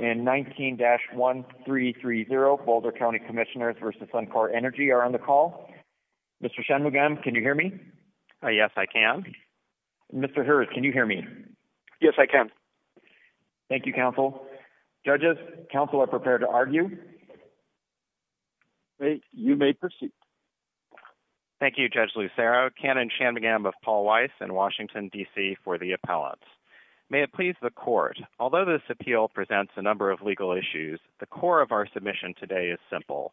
in 19-1330 Boulder County Commissioners v. Suncor Energy are on the call. Mr. Shanmugam, can you hear me? Yes, I can. Mr. Hurd, can you hear me? Yes, I can. Thank you, counsel. Judges, counsel are prepared to argue. You may proceed. Thank you, Judge Lucero. Canon Shanmugam of Paul Weiss in Washington, D.C. for the appellants. May it please the court, although this appeal presents a number of legal issues, the core of our submission today is simple.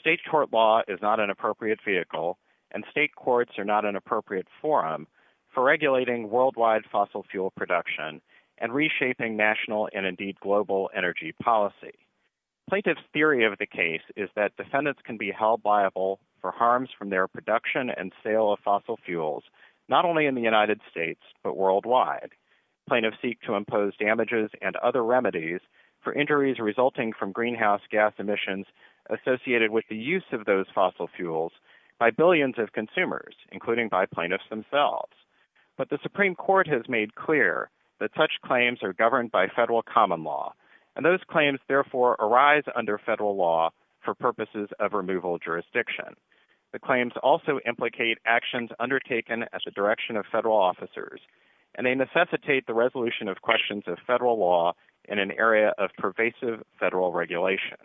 State court law is not an appropriate vehicle and state courts are not an appropriate forum for regulating worldwide fossil fuel production and reshaping national and indeed global energy policy. Plaintiff's theory of the case is that defendants can be held liable for harms from their production and sale of fossil fuels, not only in the remedies for injuries resulting from greenhouse gas emissions associated with the use of those fossil fuels by billions of consumers, including by plaintiffs themselves. But the Supreme Court has made clear that such claims are governed by federal common law and those claims therefore arise under federal law for purposes of removal jurisdiction. The claims also implicate actions undertaken as a direction of federal officers and they necessitate the resolution of questions of federal law in an area of pervasive federal regulation.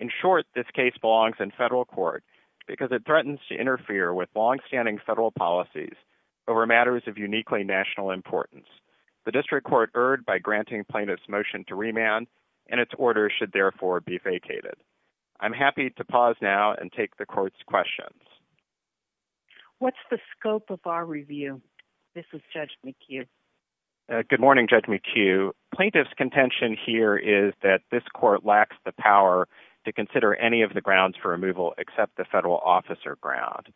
In short, this case belongs in federal court because it threatens to interfere with longstanding federal policies over matters of uniquely national importance. The district court erred by granting plaintiff's motion to remand and its order should therefore be vacated. I'm happy to pause now and take the court's questions. What's the scope of our review? This is Judge McHugh. Good morning, Judge McHugh. Plaintiff's contention here is that this court lacks the power to consider any of the grounds for removal except the federal officer ground.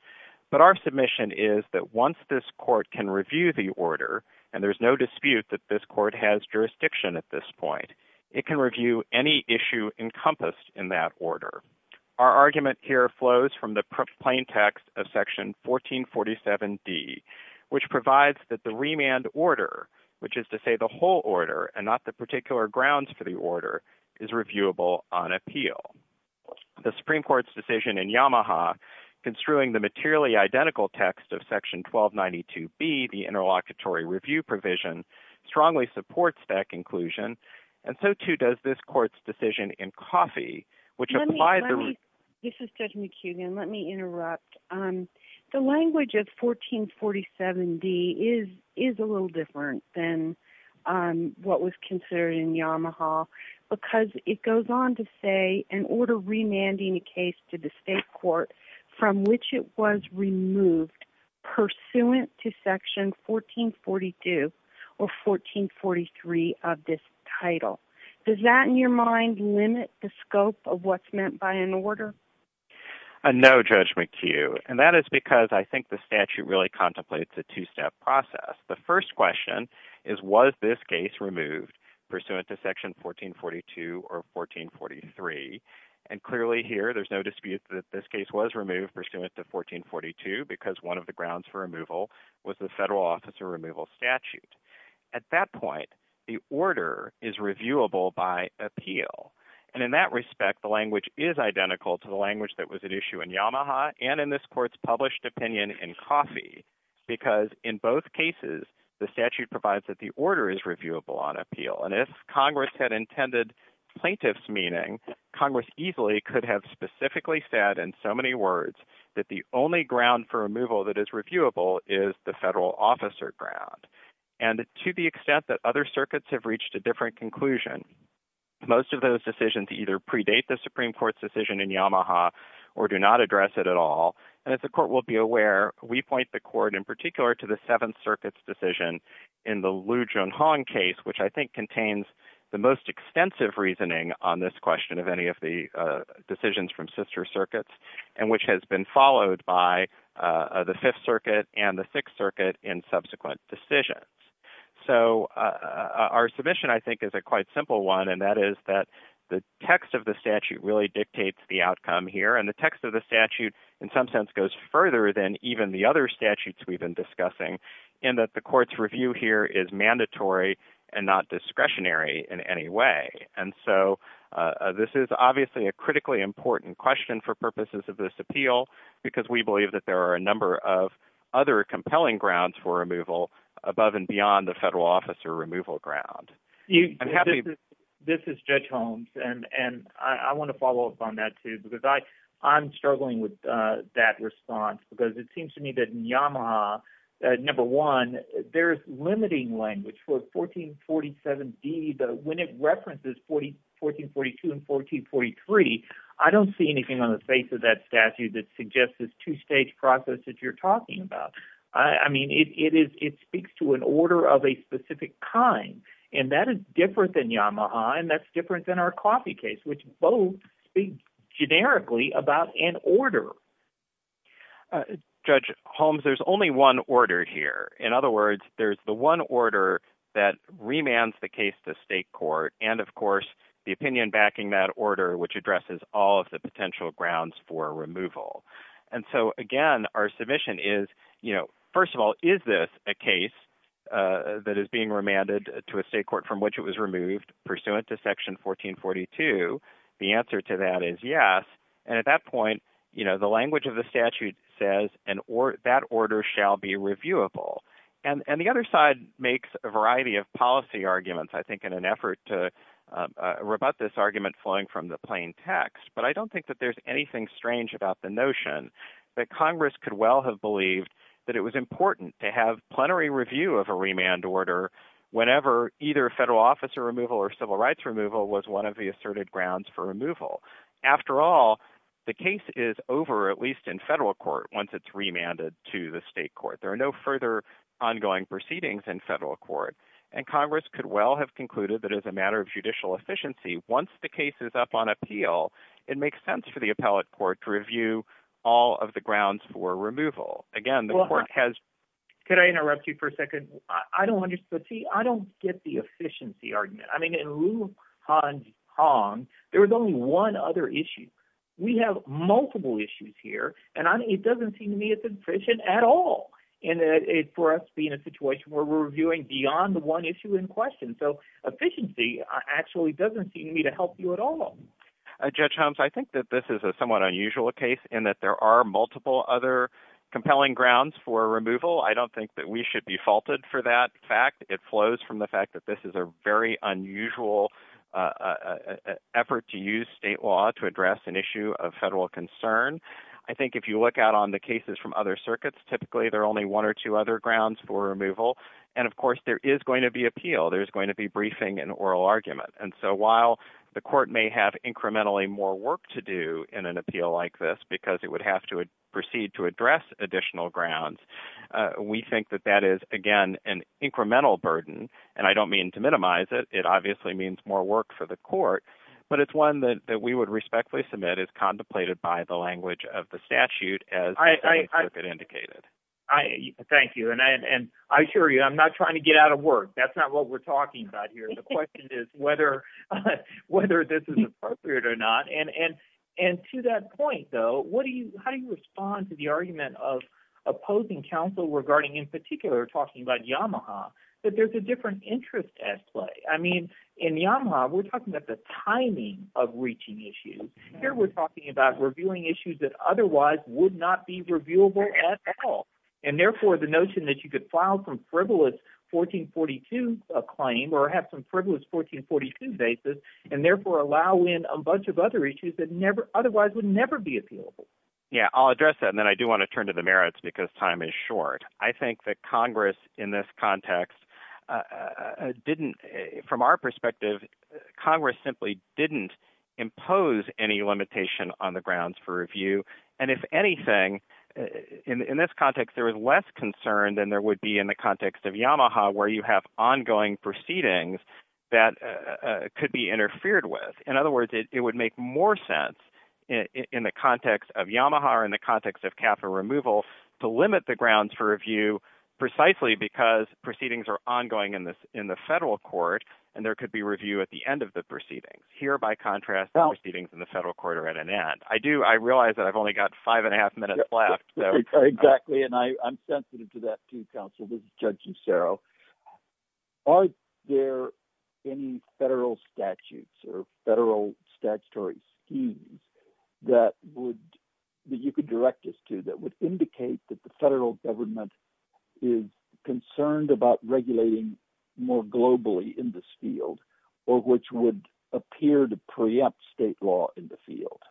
But our submission is that once this court can review the order, and there's no dispute that this court has jurisdiction at this point, it can review any issue encompassed in that order. Our argument here flows from the plain text of section 1447 D, which provides that the remand order, which is to say the whole order and not the particular grounds for the order, is reviewable on appeal. The Supreme Court's decision in Yamaha construing the materially identical text of section 1292 B, the interlocutory review provision, strongly supports that inclusion and so too does this court's decision in Coffey, which applies to... This is Judge McHugh again. Let me interrupt. The language of 1447 D is a little different than what was considered in Yamaha because it goes on to say an order remanding a case to the state court from which it was removed pursuant to section 1442 or 1443 of this title. Does that in your mind limit the scope of what's meant by an order? No, Judge McHugh. And that is because I think the statute really contemplates a two-step process. The first question is, was this case removed pursuant to section 1442 or 1443? And clearly here, there's no dispute that this case was removed pursuant to 1442 because one of the grounds for removal was the federal officer removal statute. At that point, the statute is reviewable by appeal. And in that respect, the language is identical to the language that was at issue in Yamaha and in this court's published opinion in Coffey because in both cases, the statute provides that the order is reviewable on appeal. And if Congress had intended plaintiff's meeting, Congress easily could have specifically said in so many words that the only ground for removal that is reviewable is the federal officer ground. And to the extent that other circuits have reached a different conclusion, most of those decisions either predate the Supreme Court's decision in Yamaha or do not address it at all. And as the court will be aware, we point the court in particular to the Seventh Circuit's decision in the Liu Junhong case, which I think contains the most extensive reasoning on this question of any of the decisions from sister circuits, and which has been followed by the Fifth Circuit and the Sixth Circuit in subsequent decisions. So our submission, I think, is a quite simple one, and that is that the text of the statute really dictates the outcome here. And the text of the statute in some sense goes further than even the other statutes we've been discussing in that the court's review here is mandatory and not discretionary in any way. And so this is obviously a critically important question for purposes of this appeal, because we believe that there are a number of other compelling grounds for removal above and beyond the federal officer removal ground. This is Judge Holmes, and I want to follow up on that too, because I'm struggling with that response, because it seems to me that in Yamaha, number one, there's limiting language for 1447D, but when it references 1442 and 1443, I don't see anything on the face of that statute that suggests this two-stage process that you're talking about. I mean, it speaks to an order of a specific kind, and that is different than Yamaha, and that's different than our Coffey case, which both speak generically about an order. Judge Holmes, there's only one order here. In other words, there's the one order that remands the case to state court and, of course, the opinion backing that order, which addresses all of the potential grounds for removal. And so, again, our submission is, you know, first of all, is this a case that is being remanded to a state court from which it was removed pursuant to Section 1442? The answer to that is yes, and at that point, you know, the language of the statute says that order shall be reviewable. And the other side makes a variety of policy arguments, I think, in an effort to rebut this argument flowing from the plain text, but I don't think that there's anything strange about the notion that Congress could well have believed that it was important to have plenary review of a remand order whenever either federal officer removal or civil rights removal was one of the asserted grounds for removal. After all, the case is over, at least in federal court, once it's remanded to the state court. There are no further ongoing proceedings in federal court, and Congress could well have concluded that as a matter of judicial efficiency, once the case is up on appeal, it makes sense for the appellate court to review all of the grounds for removal. Again, the court has... Could I interrupt you for a second? I don't understand. See, I don't get the efficiency argument. I mean, in lieu of Hans Hong, there was only one other issue. We have multiple issues here, and I mean, it doesn't seem to me it's efficient at all. And for us to be in a situation where we're reviewing beyond the one issue in question. So efficiency actually doesn't seem to me to help you at all. Judge Holmes, I think that this is a somewhat unusual case in that there are multiple other compelling grounds for removal. I don't think that we should be faulted for that fact. It flows from the fact that this is a very unusual effort to use state law to address an issue of federal concern. I think if you look out on the cases from other circuits, typically there are only one or two other grounds for removal. And of course, there is going to be appeal. There's going to be briefing and oral argument. And so while the court may have incrementally more work to do in an appeal like this, because it would have to proceed to address additional grounds, we think that that is, again, an incremental burden. And I don't mean to minimize it. It obviously means more work for the court, but it's one that we would respectfully submit as contemplated by the language of the statute as indicated. Thank you. And I assure you, I'm not trying to get out of work. That's not what we're talking about here. The question is whether this is appropriate or not. And to that point, though, how do you respond to the argument of opposing counsel regarding, in particular, talking about Yamaha, that there's a different interest at play? I mean, in Yamaha, we're talking about the timing of reaching issues. Here we're talking about revealing issues that otherwise would not be reviewable at all. And therefore, the notion that you could file some frivolous 1442 claim or have some frivolous 1442 basis and therefore allow in a bunch of other issues that otherwise would never be appealable. Yeah, I'll address that. And then I do want to turn to the merits because time is short. I think that Congress in this context didn't, from our perspective, Congress simply didn't impose any limitation on the grounds for review. And if anything, in this context, there was less concern than there would be in the context of Yamaha, where you have ongoing proceedings that could be interfered with. In other words, it would make more sense in the context of Yamaha or in the context of capital removal to limit the grounds for review precisely because proceedings are ongoing in the federal court and there could be review at the end of the proceedings. Here, by contrast, the proceedings in the federal court are at an end. I do, I realize that I've only got five and a half minutes left. Exactly. And I'm sensitive to that too, counsel. This is Judge Cicero. Are there any federal statutes or federal statutory schemes that you could direct us to that would indicate that the federal government is concerned about regulating more globally in this field, or which would appear to preempt state law in the field?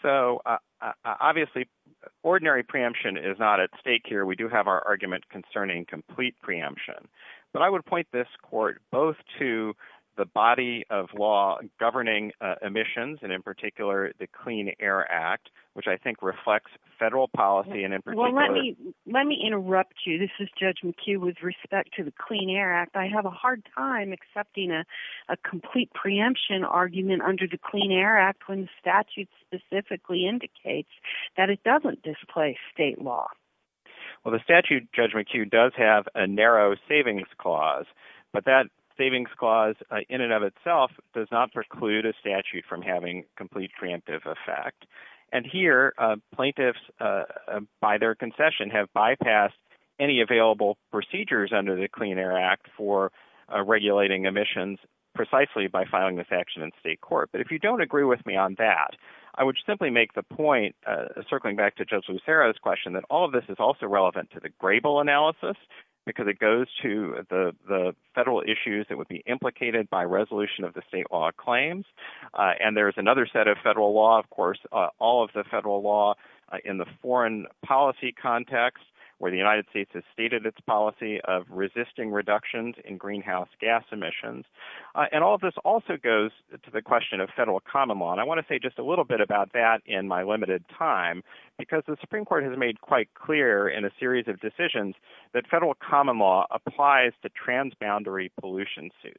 So obviously, ordinary preemption is not at stake here. We do have our argument concerning complete preemption, but I would point this court both to the body of law governing emissions, and in particular, the Clean Air Act, which I think reflects federal policy and in particular- Well, let me interrupt you. This is Judge McHugh with respect to the Clean Air Act. I have a hard time accepting a complete preemption argument under the Clean Air Act when the statute specifically indicates that it doesn't displace state law. Well, the statute, Judge McHugh, does have a narrow savings clause, but that savings clause in and of itself does not preclude a statute from having complete preemptive effect. And here, plaintiffs by their concession have bypassed any available procedures under the Clean Air Act for regulating emissions precisely by filing this action in state court. But if you don't agree with me on that, I would simply make the point, circling back to Judge Lucero's question, that all of this is also relevant to the Grable analysis, because it goes to the federal issues that would be implicated by resolution of the state law claims. And there's another set of federal law, of course, all of the federal law in the foreign policy context, where the United States has stated its policy of resisting reductions in greenhouse gas emissions. And all of this also goes to the question of federal common law. And I want to say just a little bit about that in my presentation. It is quite clear in a series of decisions that federal common law applies to transboundary pollution suits.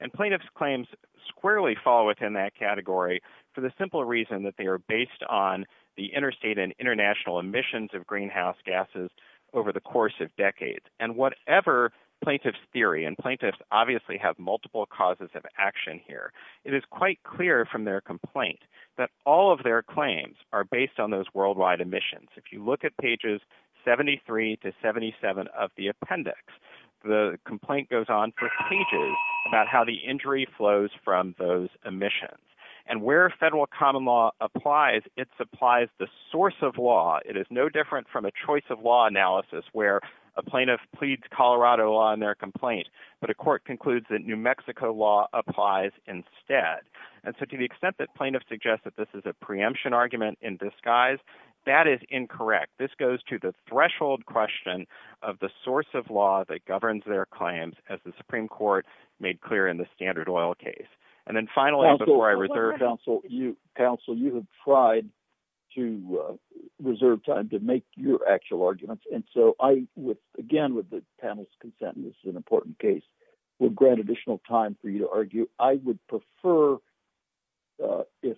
And plaintiff's claims squarely fall within that category for the simple reason that they are based on the interstate and international emissions of greenhouse gases over the course of decades. And whatever plaintiff's theory, and plaintiffs obviously have multiple causes of action here, it is quite clear from their complaint that all of their claims are based on those worldwide emissions. If you look at pages 73 to 77 of the appendix, the complaint goes on for pages about how the injury flows from those emissions. And where federal common law applies, it supplies the source of law. It is no different from a choice of law analysis where a plaintiff pleads Colorado on their complaint, but a court concludes that Mexico law applies instead. And so to the extent that plaintiff suggests that this is a preemption argument in disguise, that is incorrect. This goes to the threshold question of the source of law that governs their claims as the Supreme Court made clear in the Standard Oil case. And then finally, before I reserve... Counsel, you have tried to reserve time to make your actual arguments. And so I would, again, with the panel's consent, and this is an important case, would grant additional time for you to argue. I would prefer if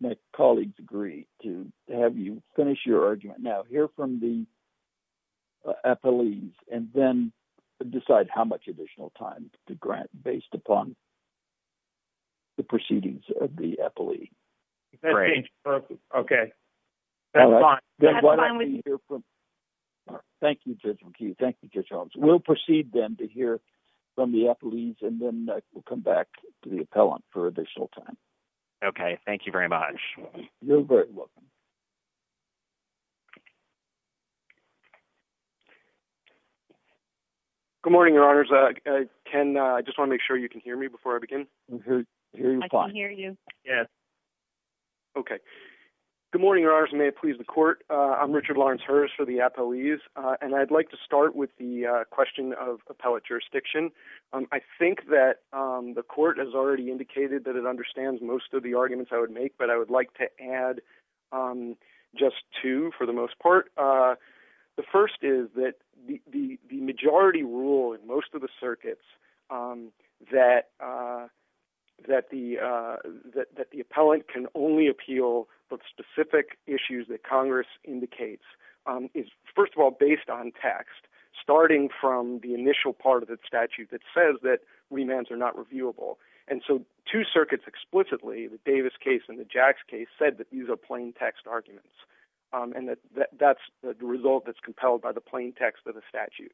my colleagues agree to have you finish your argument now, hear from the appellees, and then decide how much additional time to grant based upon the proceedings of the appellee. Great. Okay. All right. Thank you, Judge McHugh. Thank you, Judge Holmes. We'll proceed then to hear from the appellees, and then we'll come back to the appellant for additional time. Okay. Thank you very much. You're very welcome. Good morning, Your Honors. Ken, I just want to make sure you can hear me before I begin. I can hear you. Yes. Okay. Good morning, Your Honors. And may it please the Court. I'm Richard Lawrence Hurst for the appellees. And I'd like to start with the question of appellate jurisdiction. I think that the Court has already indicated that it understands most of the arguments I would make, but I would like to add just two for the most part. The first is that the majority rule in appeal of specific issues that Congress indicates is, first of all, based on text, starting from the initial part of the statute that says that remands are not reviewable. And so two circuits explicitly, the Davis case and the Jacks case, said that these are plain text arguments. And that's the result that's compelled by the plain text of the statute.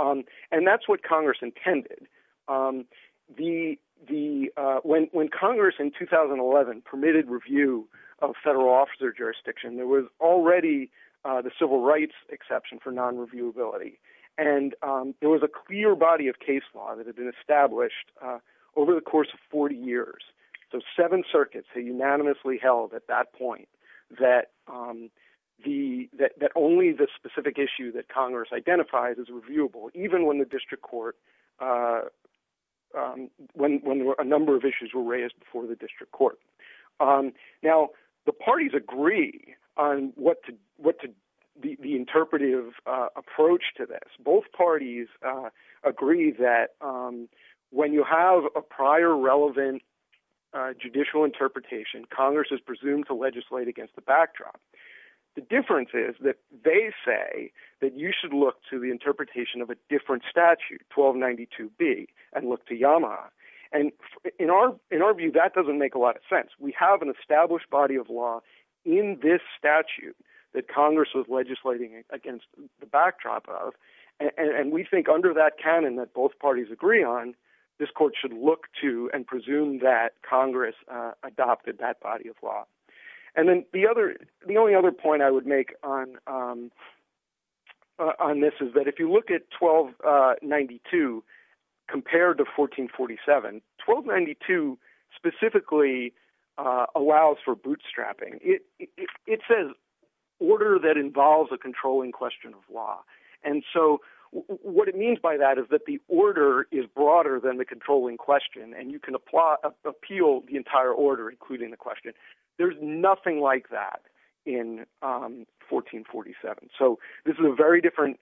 And that's what Congress intended. When Congress in 2011 permitted review of federal officer jurisdiction, there was already the civil rights exception for non-reviewability. And there was a clear body of case law that had been established over the course of 40 years. So seven circuits unanimously held at that point that only the specific issue that Congress identified is reviewable, even when a number of issues were raised before the district court. Now, the parties agree on the interpretive approach to this. Both parties agree that when you have a prior relevant judicial interpretation, Congress is presumed to legislate against the backdrop. The difference is that they say that you should look to the interpretation of a different statute, 1292B, and look to Yamaha. And in our view, that doesn't make a lot of sense. We have an established body of law in this statute that Congress was on. This court should look to and presume that Congress adopted that body of law. And then the only other point I would make on this is that if you look at 1292 compared to 1447, 1292 specifically allows for bootstrapping. It says order that involves a controlling question law. And so what it means by that is that the order is broader than the controlling question, and you can appeal the entire order, including the question. There's nothing like that in 1447. So this is a very different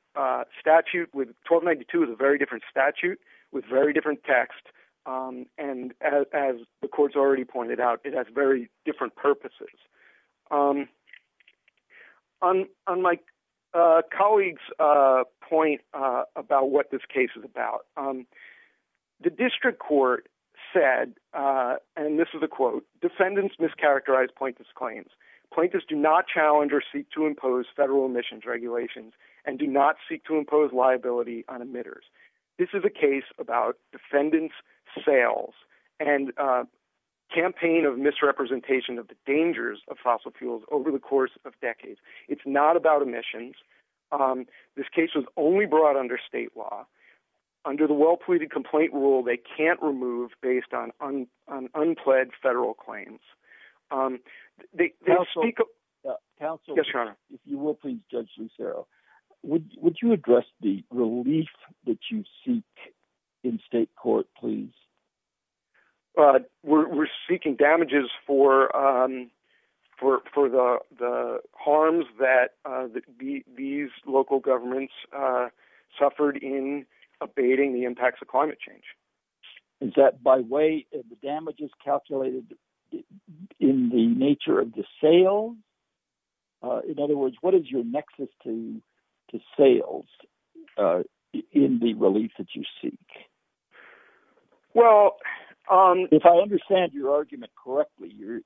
statute. 1292 is a very different statute with very different text. And as the court's already pointed out, it has very different purposes. On my colleague's point about what this case is about, the district court said, and this is a quote, defendants mischaracterize plaintiff's claims. Plaintiffs do not challenge or seek to impose federal emissions regulations and do not seek to impose liability on emitters. This is a case about defendants' sales and campaign of misrepresentation of the dangers of fossil fuels over the course of decades. It's not about emissions. This case was only brought under state law. Under the well-pleaded complaint rule, they can't remove based on unpled federal claims. They don't speak- If you will, please, Judge Lucero, would you address the relief that you seek in state court, please? We're seeking damages for the harms that these local governments suffered in abating the impacts of climate change. Is that by way of the damages calculated in the nature of the sale? In other words, what is your nexus to sales in the relief that you seek? Well- If I understand your argument correctly, you're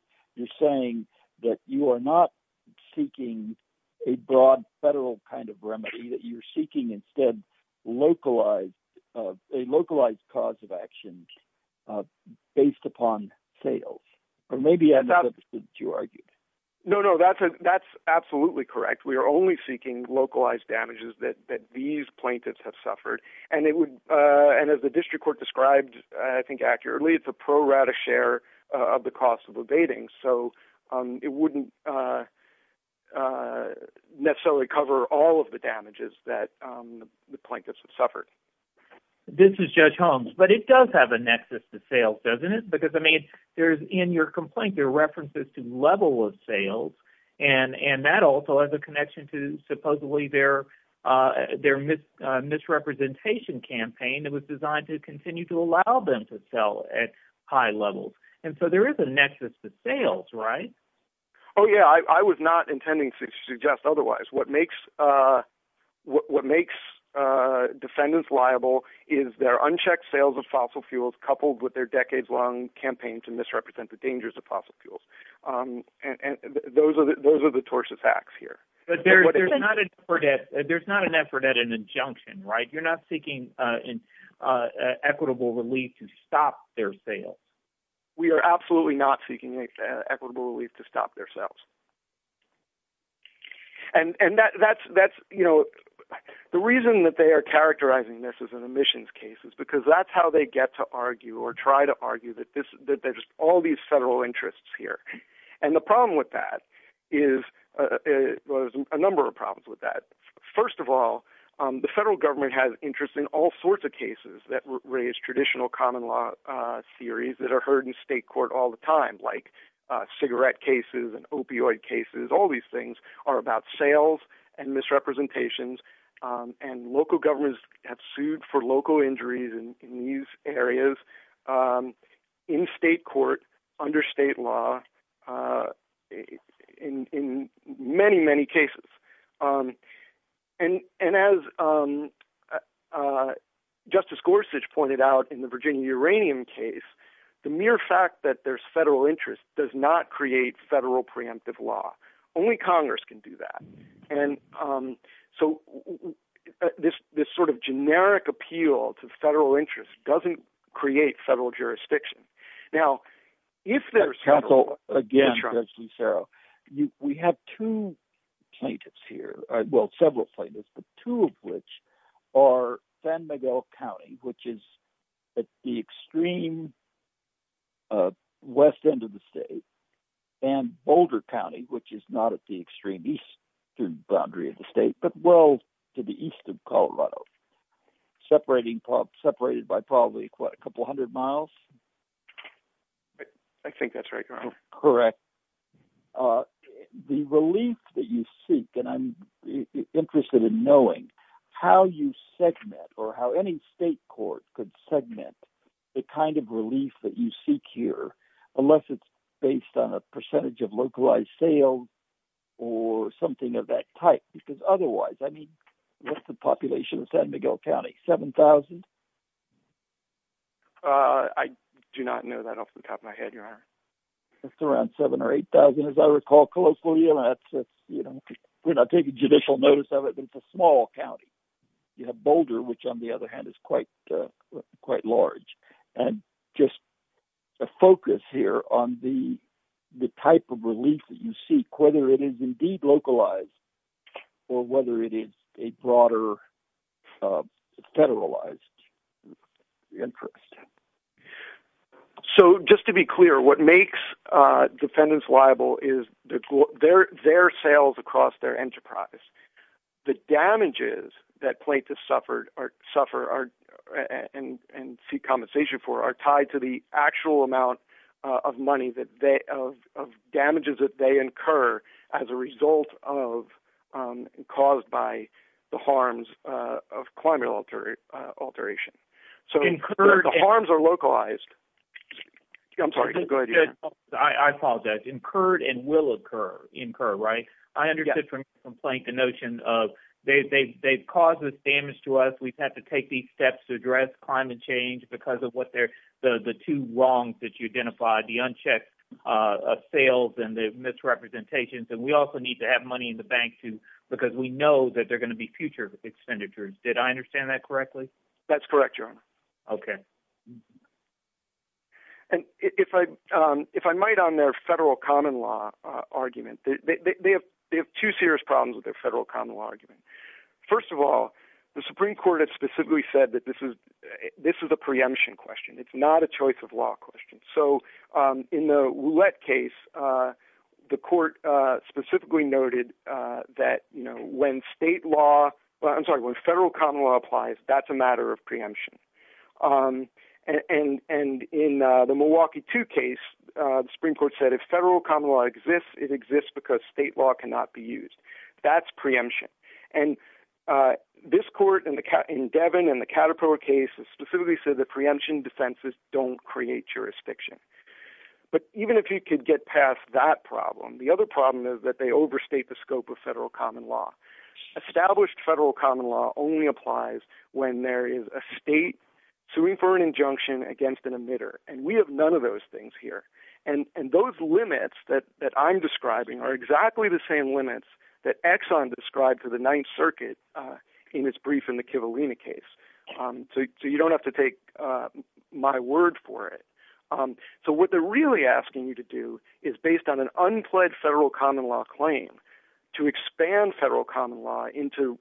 saying that you are not seeking a broad federal kind of remedy, that you're seeking instead a localized cause of action based upon sales. Or maybe I misunderstood what you argued. No, no. That's absolutely correct. We are only seeking localized damages that these plaintiffs have suffered. As the district court described, I think accurately, it's a pro-rata share of the cost of abating. It wouldn't necessarily cover all of the damages that the plaintiffs have suffered. This is Judge Holmes, but it does have a nexus to sales, doesn't it? Because in your complaint, there are references to level of sales, and that also has a connection to supposedly their misrepresentation campaign that was designed to continue to allow them to sell at high levels. And so there is a nexus to sales, right? Oh, yeah. I was not intending to suggest otherwise. What makes defendants liable is their unchecked sales of fossil fuels coupled with their decades-long campaign to misrepresent the dangers of fossil fuels. Those are the tortious acts here. But there's not an effort at an injunction, right? You're not seeking equitable relief to stop their sales. We are absolutely not seeking equitable relief to stop their sales. And the reason that they are characterizing this as an admissions case is because that's how they get to argue or try to argue that there's all these federal interests here. And the problem with that is, well, there's a number of problems with that. First of all, the federal government has interest in all sorts of cases that raise traditional common law theories that are heard in state court all the time, like cigarette cases and opioid cases. All these things are about sales and misrepresentations. And local governments have sued for local injuries in these areas, in state court, under state law, in many, many cases. And as Justice Gorsuch pointed out in the Virginia Uranium case, the mere fact that there's federal interest does not create federal preemptive law. Only Congress can do that. And so this sort of generic appeal to federal interest doesn't create federal jurisdiction. Now, if there's- Counsel, again, Judge Lucero, we have two plaintiffs here, well, several plaintiffs, but two of which are San Miguel County, which is at the extreme west end of the state, and Boulder County, which is not at the extreme eastern boundary of the state, but well to the east. I think that's right, Your Honor. Correct. The relief that you seek, and I'm interested in knowing how you segment or how any state court could segment the kind of relief that you seek here, unless it's based on a percentage of localized sales or something of that type, because otherwise, I mean, what's the population of San Miguel County, 7,000? I do not know that off the top of my head, Your Honor. It's around 7,000 or 8,000, as I recall, closely. We're not taking judicial notice of it, but it's a small county. You have Boulder, which on the other hand is quite large. And just a focus here on the type of relief that you seek, whether it is indeed localized or whether it is a broader federalized interest. So just to be clear, what makes defendants liable is their sales across their enterprise. The damages that plaintiffs suffer and seek compensation for are tied to the actual amount of money, of damages that they incur as a result of caused by the harms of climate alteration. Incurred... So the harms are localized. I'm sorry. Go ahead, Your Honor. I apologize. Incurred and will incur, right? I understood from the complaint the notion of they've caused this damage to us. We've had to these steps to address climate change because of the two wrongs that you identified, the unchecked sales and the misrepresentations. And we also need to have money in the bank, too, because we know that there are going to be future expenditures. Did I understand that correctly? That's correct, Your Honor. Okay. And if I might, on their federal common law argument, they have two serious problems with it. This is a preemption question. It's not a choice of law question. So in the Roulette case, the court specifically noted that when state law... I'm sorry, when federal common law applies, that's a matter of preemption. And in the Milwaukee 2 case, the Supreme Court said, if federal common law exists, it exists because state law cannot be used. That's preemption. And this court in Devin and the Caterpillar case specifically said the preemption defenses don't create jurisdiction. But even if you could get past that problem, the other problem is that they overstate the scope of federal common law. Established federal common law only applies when there is a state to refer an injunction against an emitter. And we have none of those things here. And those limits that I'm describing are exactly the same limits that Exxon described for the Ninth Circuit in its brief in the Kivalina case. So you don't have to take my word for it. So what they're really asking you to do is based on an unpledged federal common law claim to expand federal common law into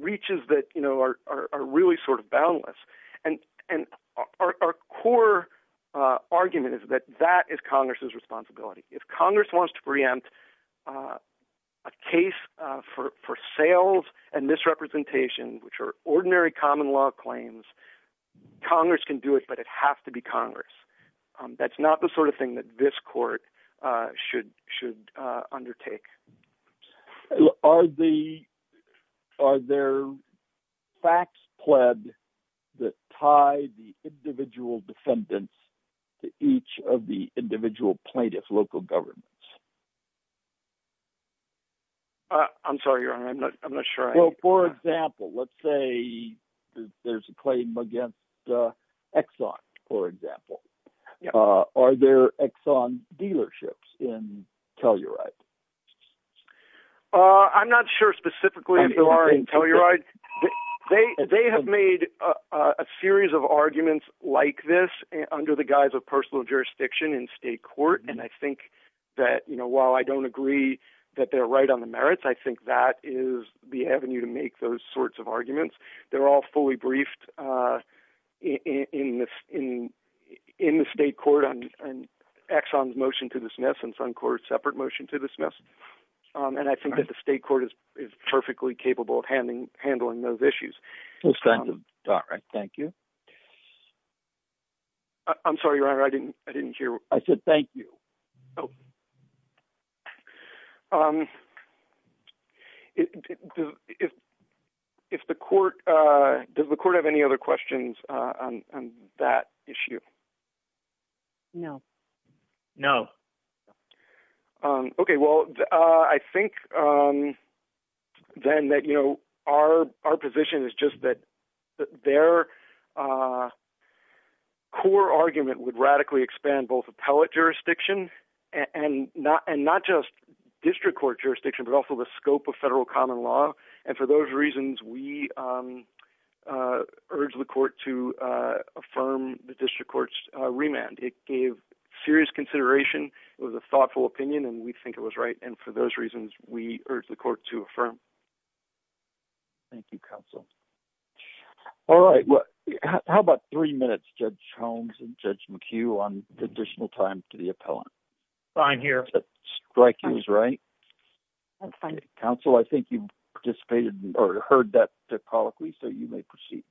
reaches that are really sort of boundless. And our core argument is that that is Congress's responsibility. If Congress wants to preempt a case for sales and misrepresentation, which are ordinary common law claims, Congress can do it, but it has to be Congress. That's not the sort of thing that this court should undertake. Are there facts pled that tie the individual defendants to each of the individual plaintiffs' local governments? I'm sorry, Your Honor, I'm not sure. Well, for example, let's say there's a claim against Exxon, for example. Are there Exxon dealerships in Telluride? I'm not sure specifically if there are in Telluride. They have made a series of arguments like this under the guise of personal jurisdiction in state court. And I think that while I don't agree that they're right on the merits, I think that is the avenue to make those sorts of arguments. They're all fully briefed in the state court on Exxon's motion to dismiss and Suncor's separate motion to dismiss. And I think that the state court is perfectly capable of handling those issues. All right. Thank you. I'm sorry, Your Honor, I didn't hear. I said thank you. Oh. Does the court have any other questions on that issue? No. No. Okay. Well, I think then that our position is just that their core argument would radically expand both appellate jurisdiction and not just district court jurisdiction, but also the scope of federal common law. And for those reasons, we urge the court to affirm the district court's remand. It gave serious consideration. It was a thoughtful opinion, and we think it was right. And for those reasons, we urge the court to affirm. Thank you, counsel. All right. How about three minutes, Judge Holmes and Judge McHugh, on additional time to the appellant? Fine. Here. Counsel, I think you participated or heard that topologically, so you may proceed.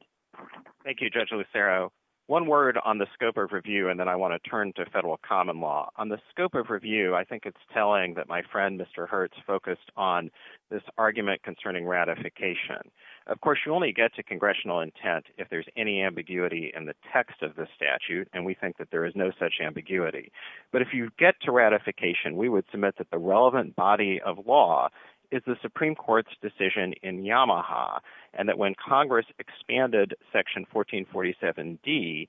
Thank you, Judge Lucero. One word on the scope of review, and then I want to turn to federal common law. On the scope of review, I think it's telling that my friend, Mr. Hertz, focused on this argument concerning ratification. Of course, you only get to congressional intent if there's any ambiguity in the text of the statute, and we think that there is no such ambiguity. But if you get to ratification, we would submit that the relevant body of law is the Supreme Court's decision in Yamaha, and that when Congress expanded Section 1447D,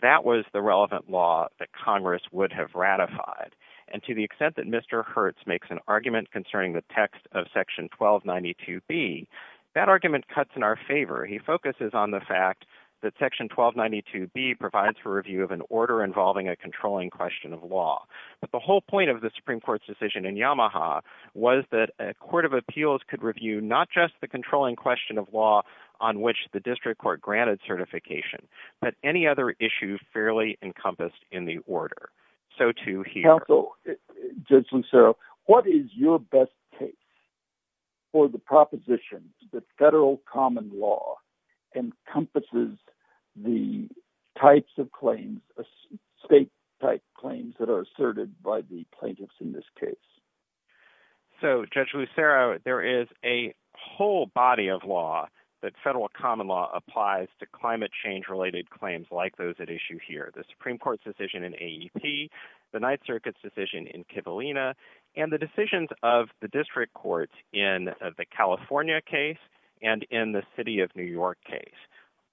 that was the relevant law that Congress would have ratified. And to the extent that Mr. Hertz makes an argument concerning the text of Section 1292B, that argument cuts in our favor. He focuses on the fact that Section 1292B provides for review of an order involving a controlling question of law. But the whole point of the Supreme Court's decision in Yamaha was that a court of appeals could review not just the controlling question of law on which the district court granted certification, but any other issue fairly encompassed in the order. So too here. Counsel, Judge Lucero, what is your best case for the propositions that federal common law encompasses the types of claims, state type claims that are asserted by the plaintiffs in this case? So Judge Lucero, there is a whole body of law that federal common law applies to climate change related claims like those at issue here. The Supreme Court's decision in AEP, the Ninth Circuit's decision in Kivalina, and the decisions of the district courts in the California case and in the city of New York case.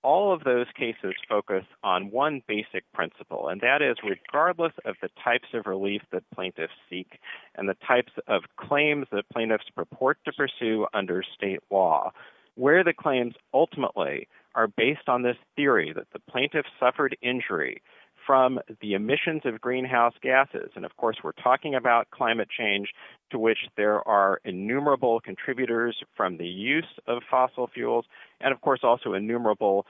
All of those cases focus on one basic principle, and that is regardless of the types of relief that plaintiffs seek and the types of claims that plaintiffs purport to pursue under state law, where the claims ultimately are based on this theory that the plaintiffs suffered injury from the emissions of greenhouse gases. And of course, we're talking about climate change, to which there are innumerable contributors from the use of fossil fuels, and of course, also innumerable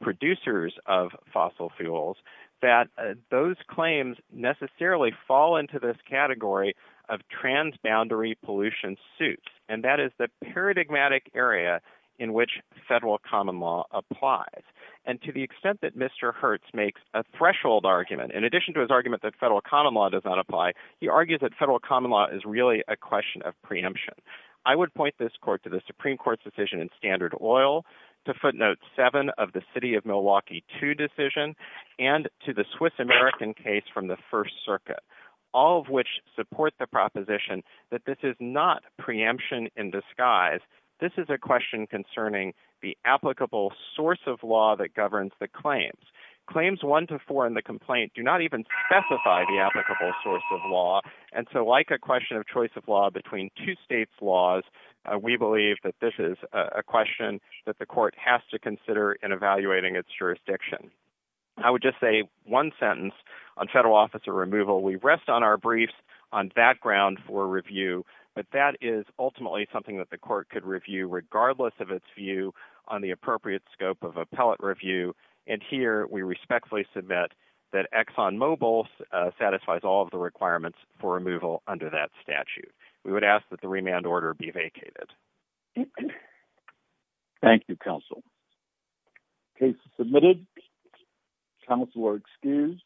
producers of fossil fuels, that those claims necessarily fall into this category of transboundary pollution suits. And that is the paradigmatic area in which federal common law applies. And to the extent that Mr. Hertz makes a threshold argument, in addition to his argument that federal common law does not Supreme Court's decision in Standard Oil, to footnote seven of the city of Milwaukee two decision, and to the Swiss American case from the First Circuit, all of which support the proposition that this is not preemption in disguise. This is a question concerning the applicable source of law that governs the claims. Claims one to four in the complaint do not even specify the applicable source of law. And so like a question of choice of law between two states laws, we believe that this is a question that the court has to consider in evaluating its jurisdiction. I would just say one sentence on federal officer removal. We rest on our briefs on that ground for review, but that is ultimately something that the court could review regardless of its view on the appropriate scope of appellate review. And here we respectfully submit that Exxon Mobil satisfies all of the requirements for removal under that statute. We would ask that the remand order be vacated. Thank you, counsel. Case submitted. Counsel are excused.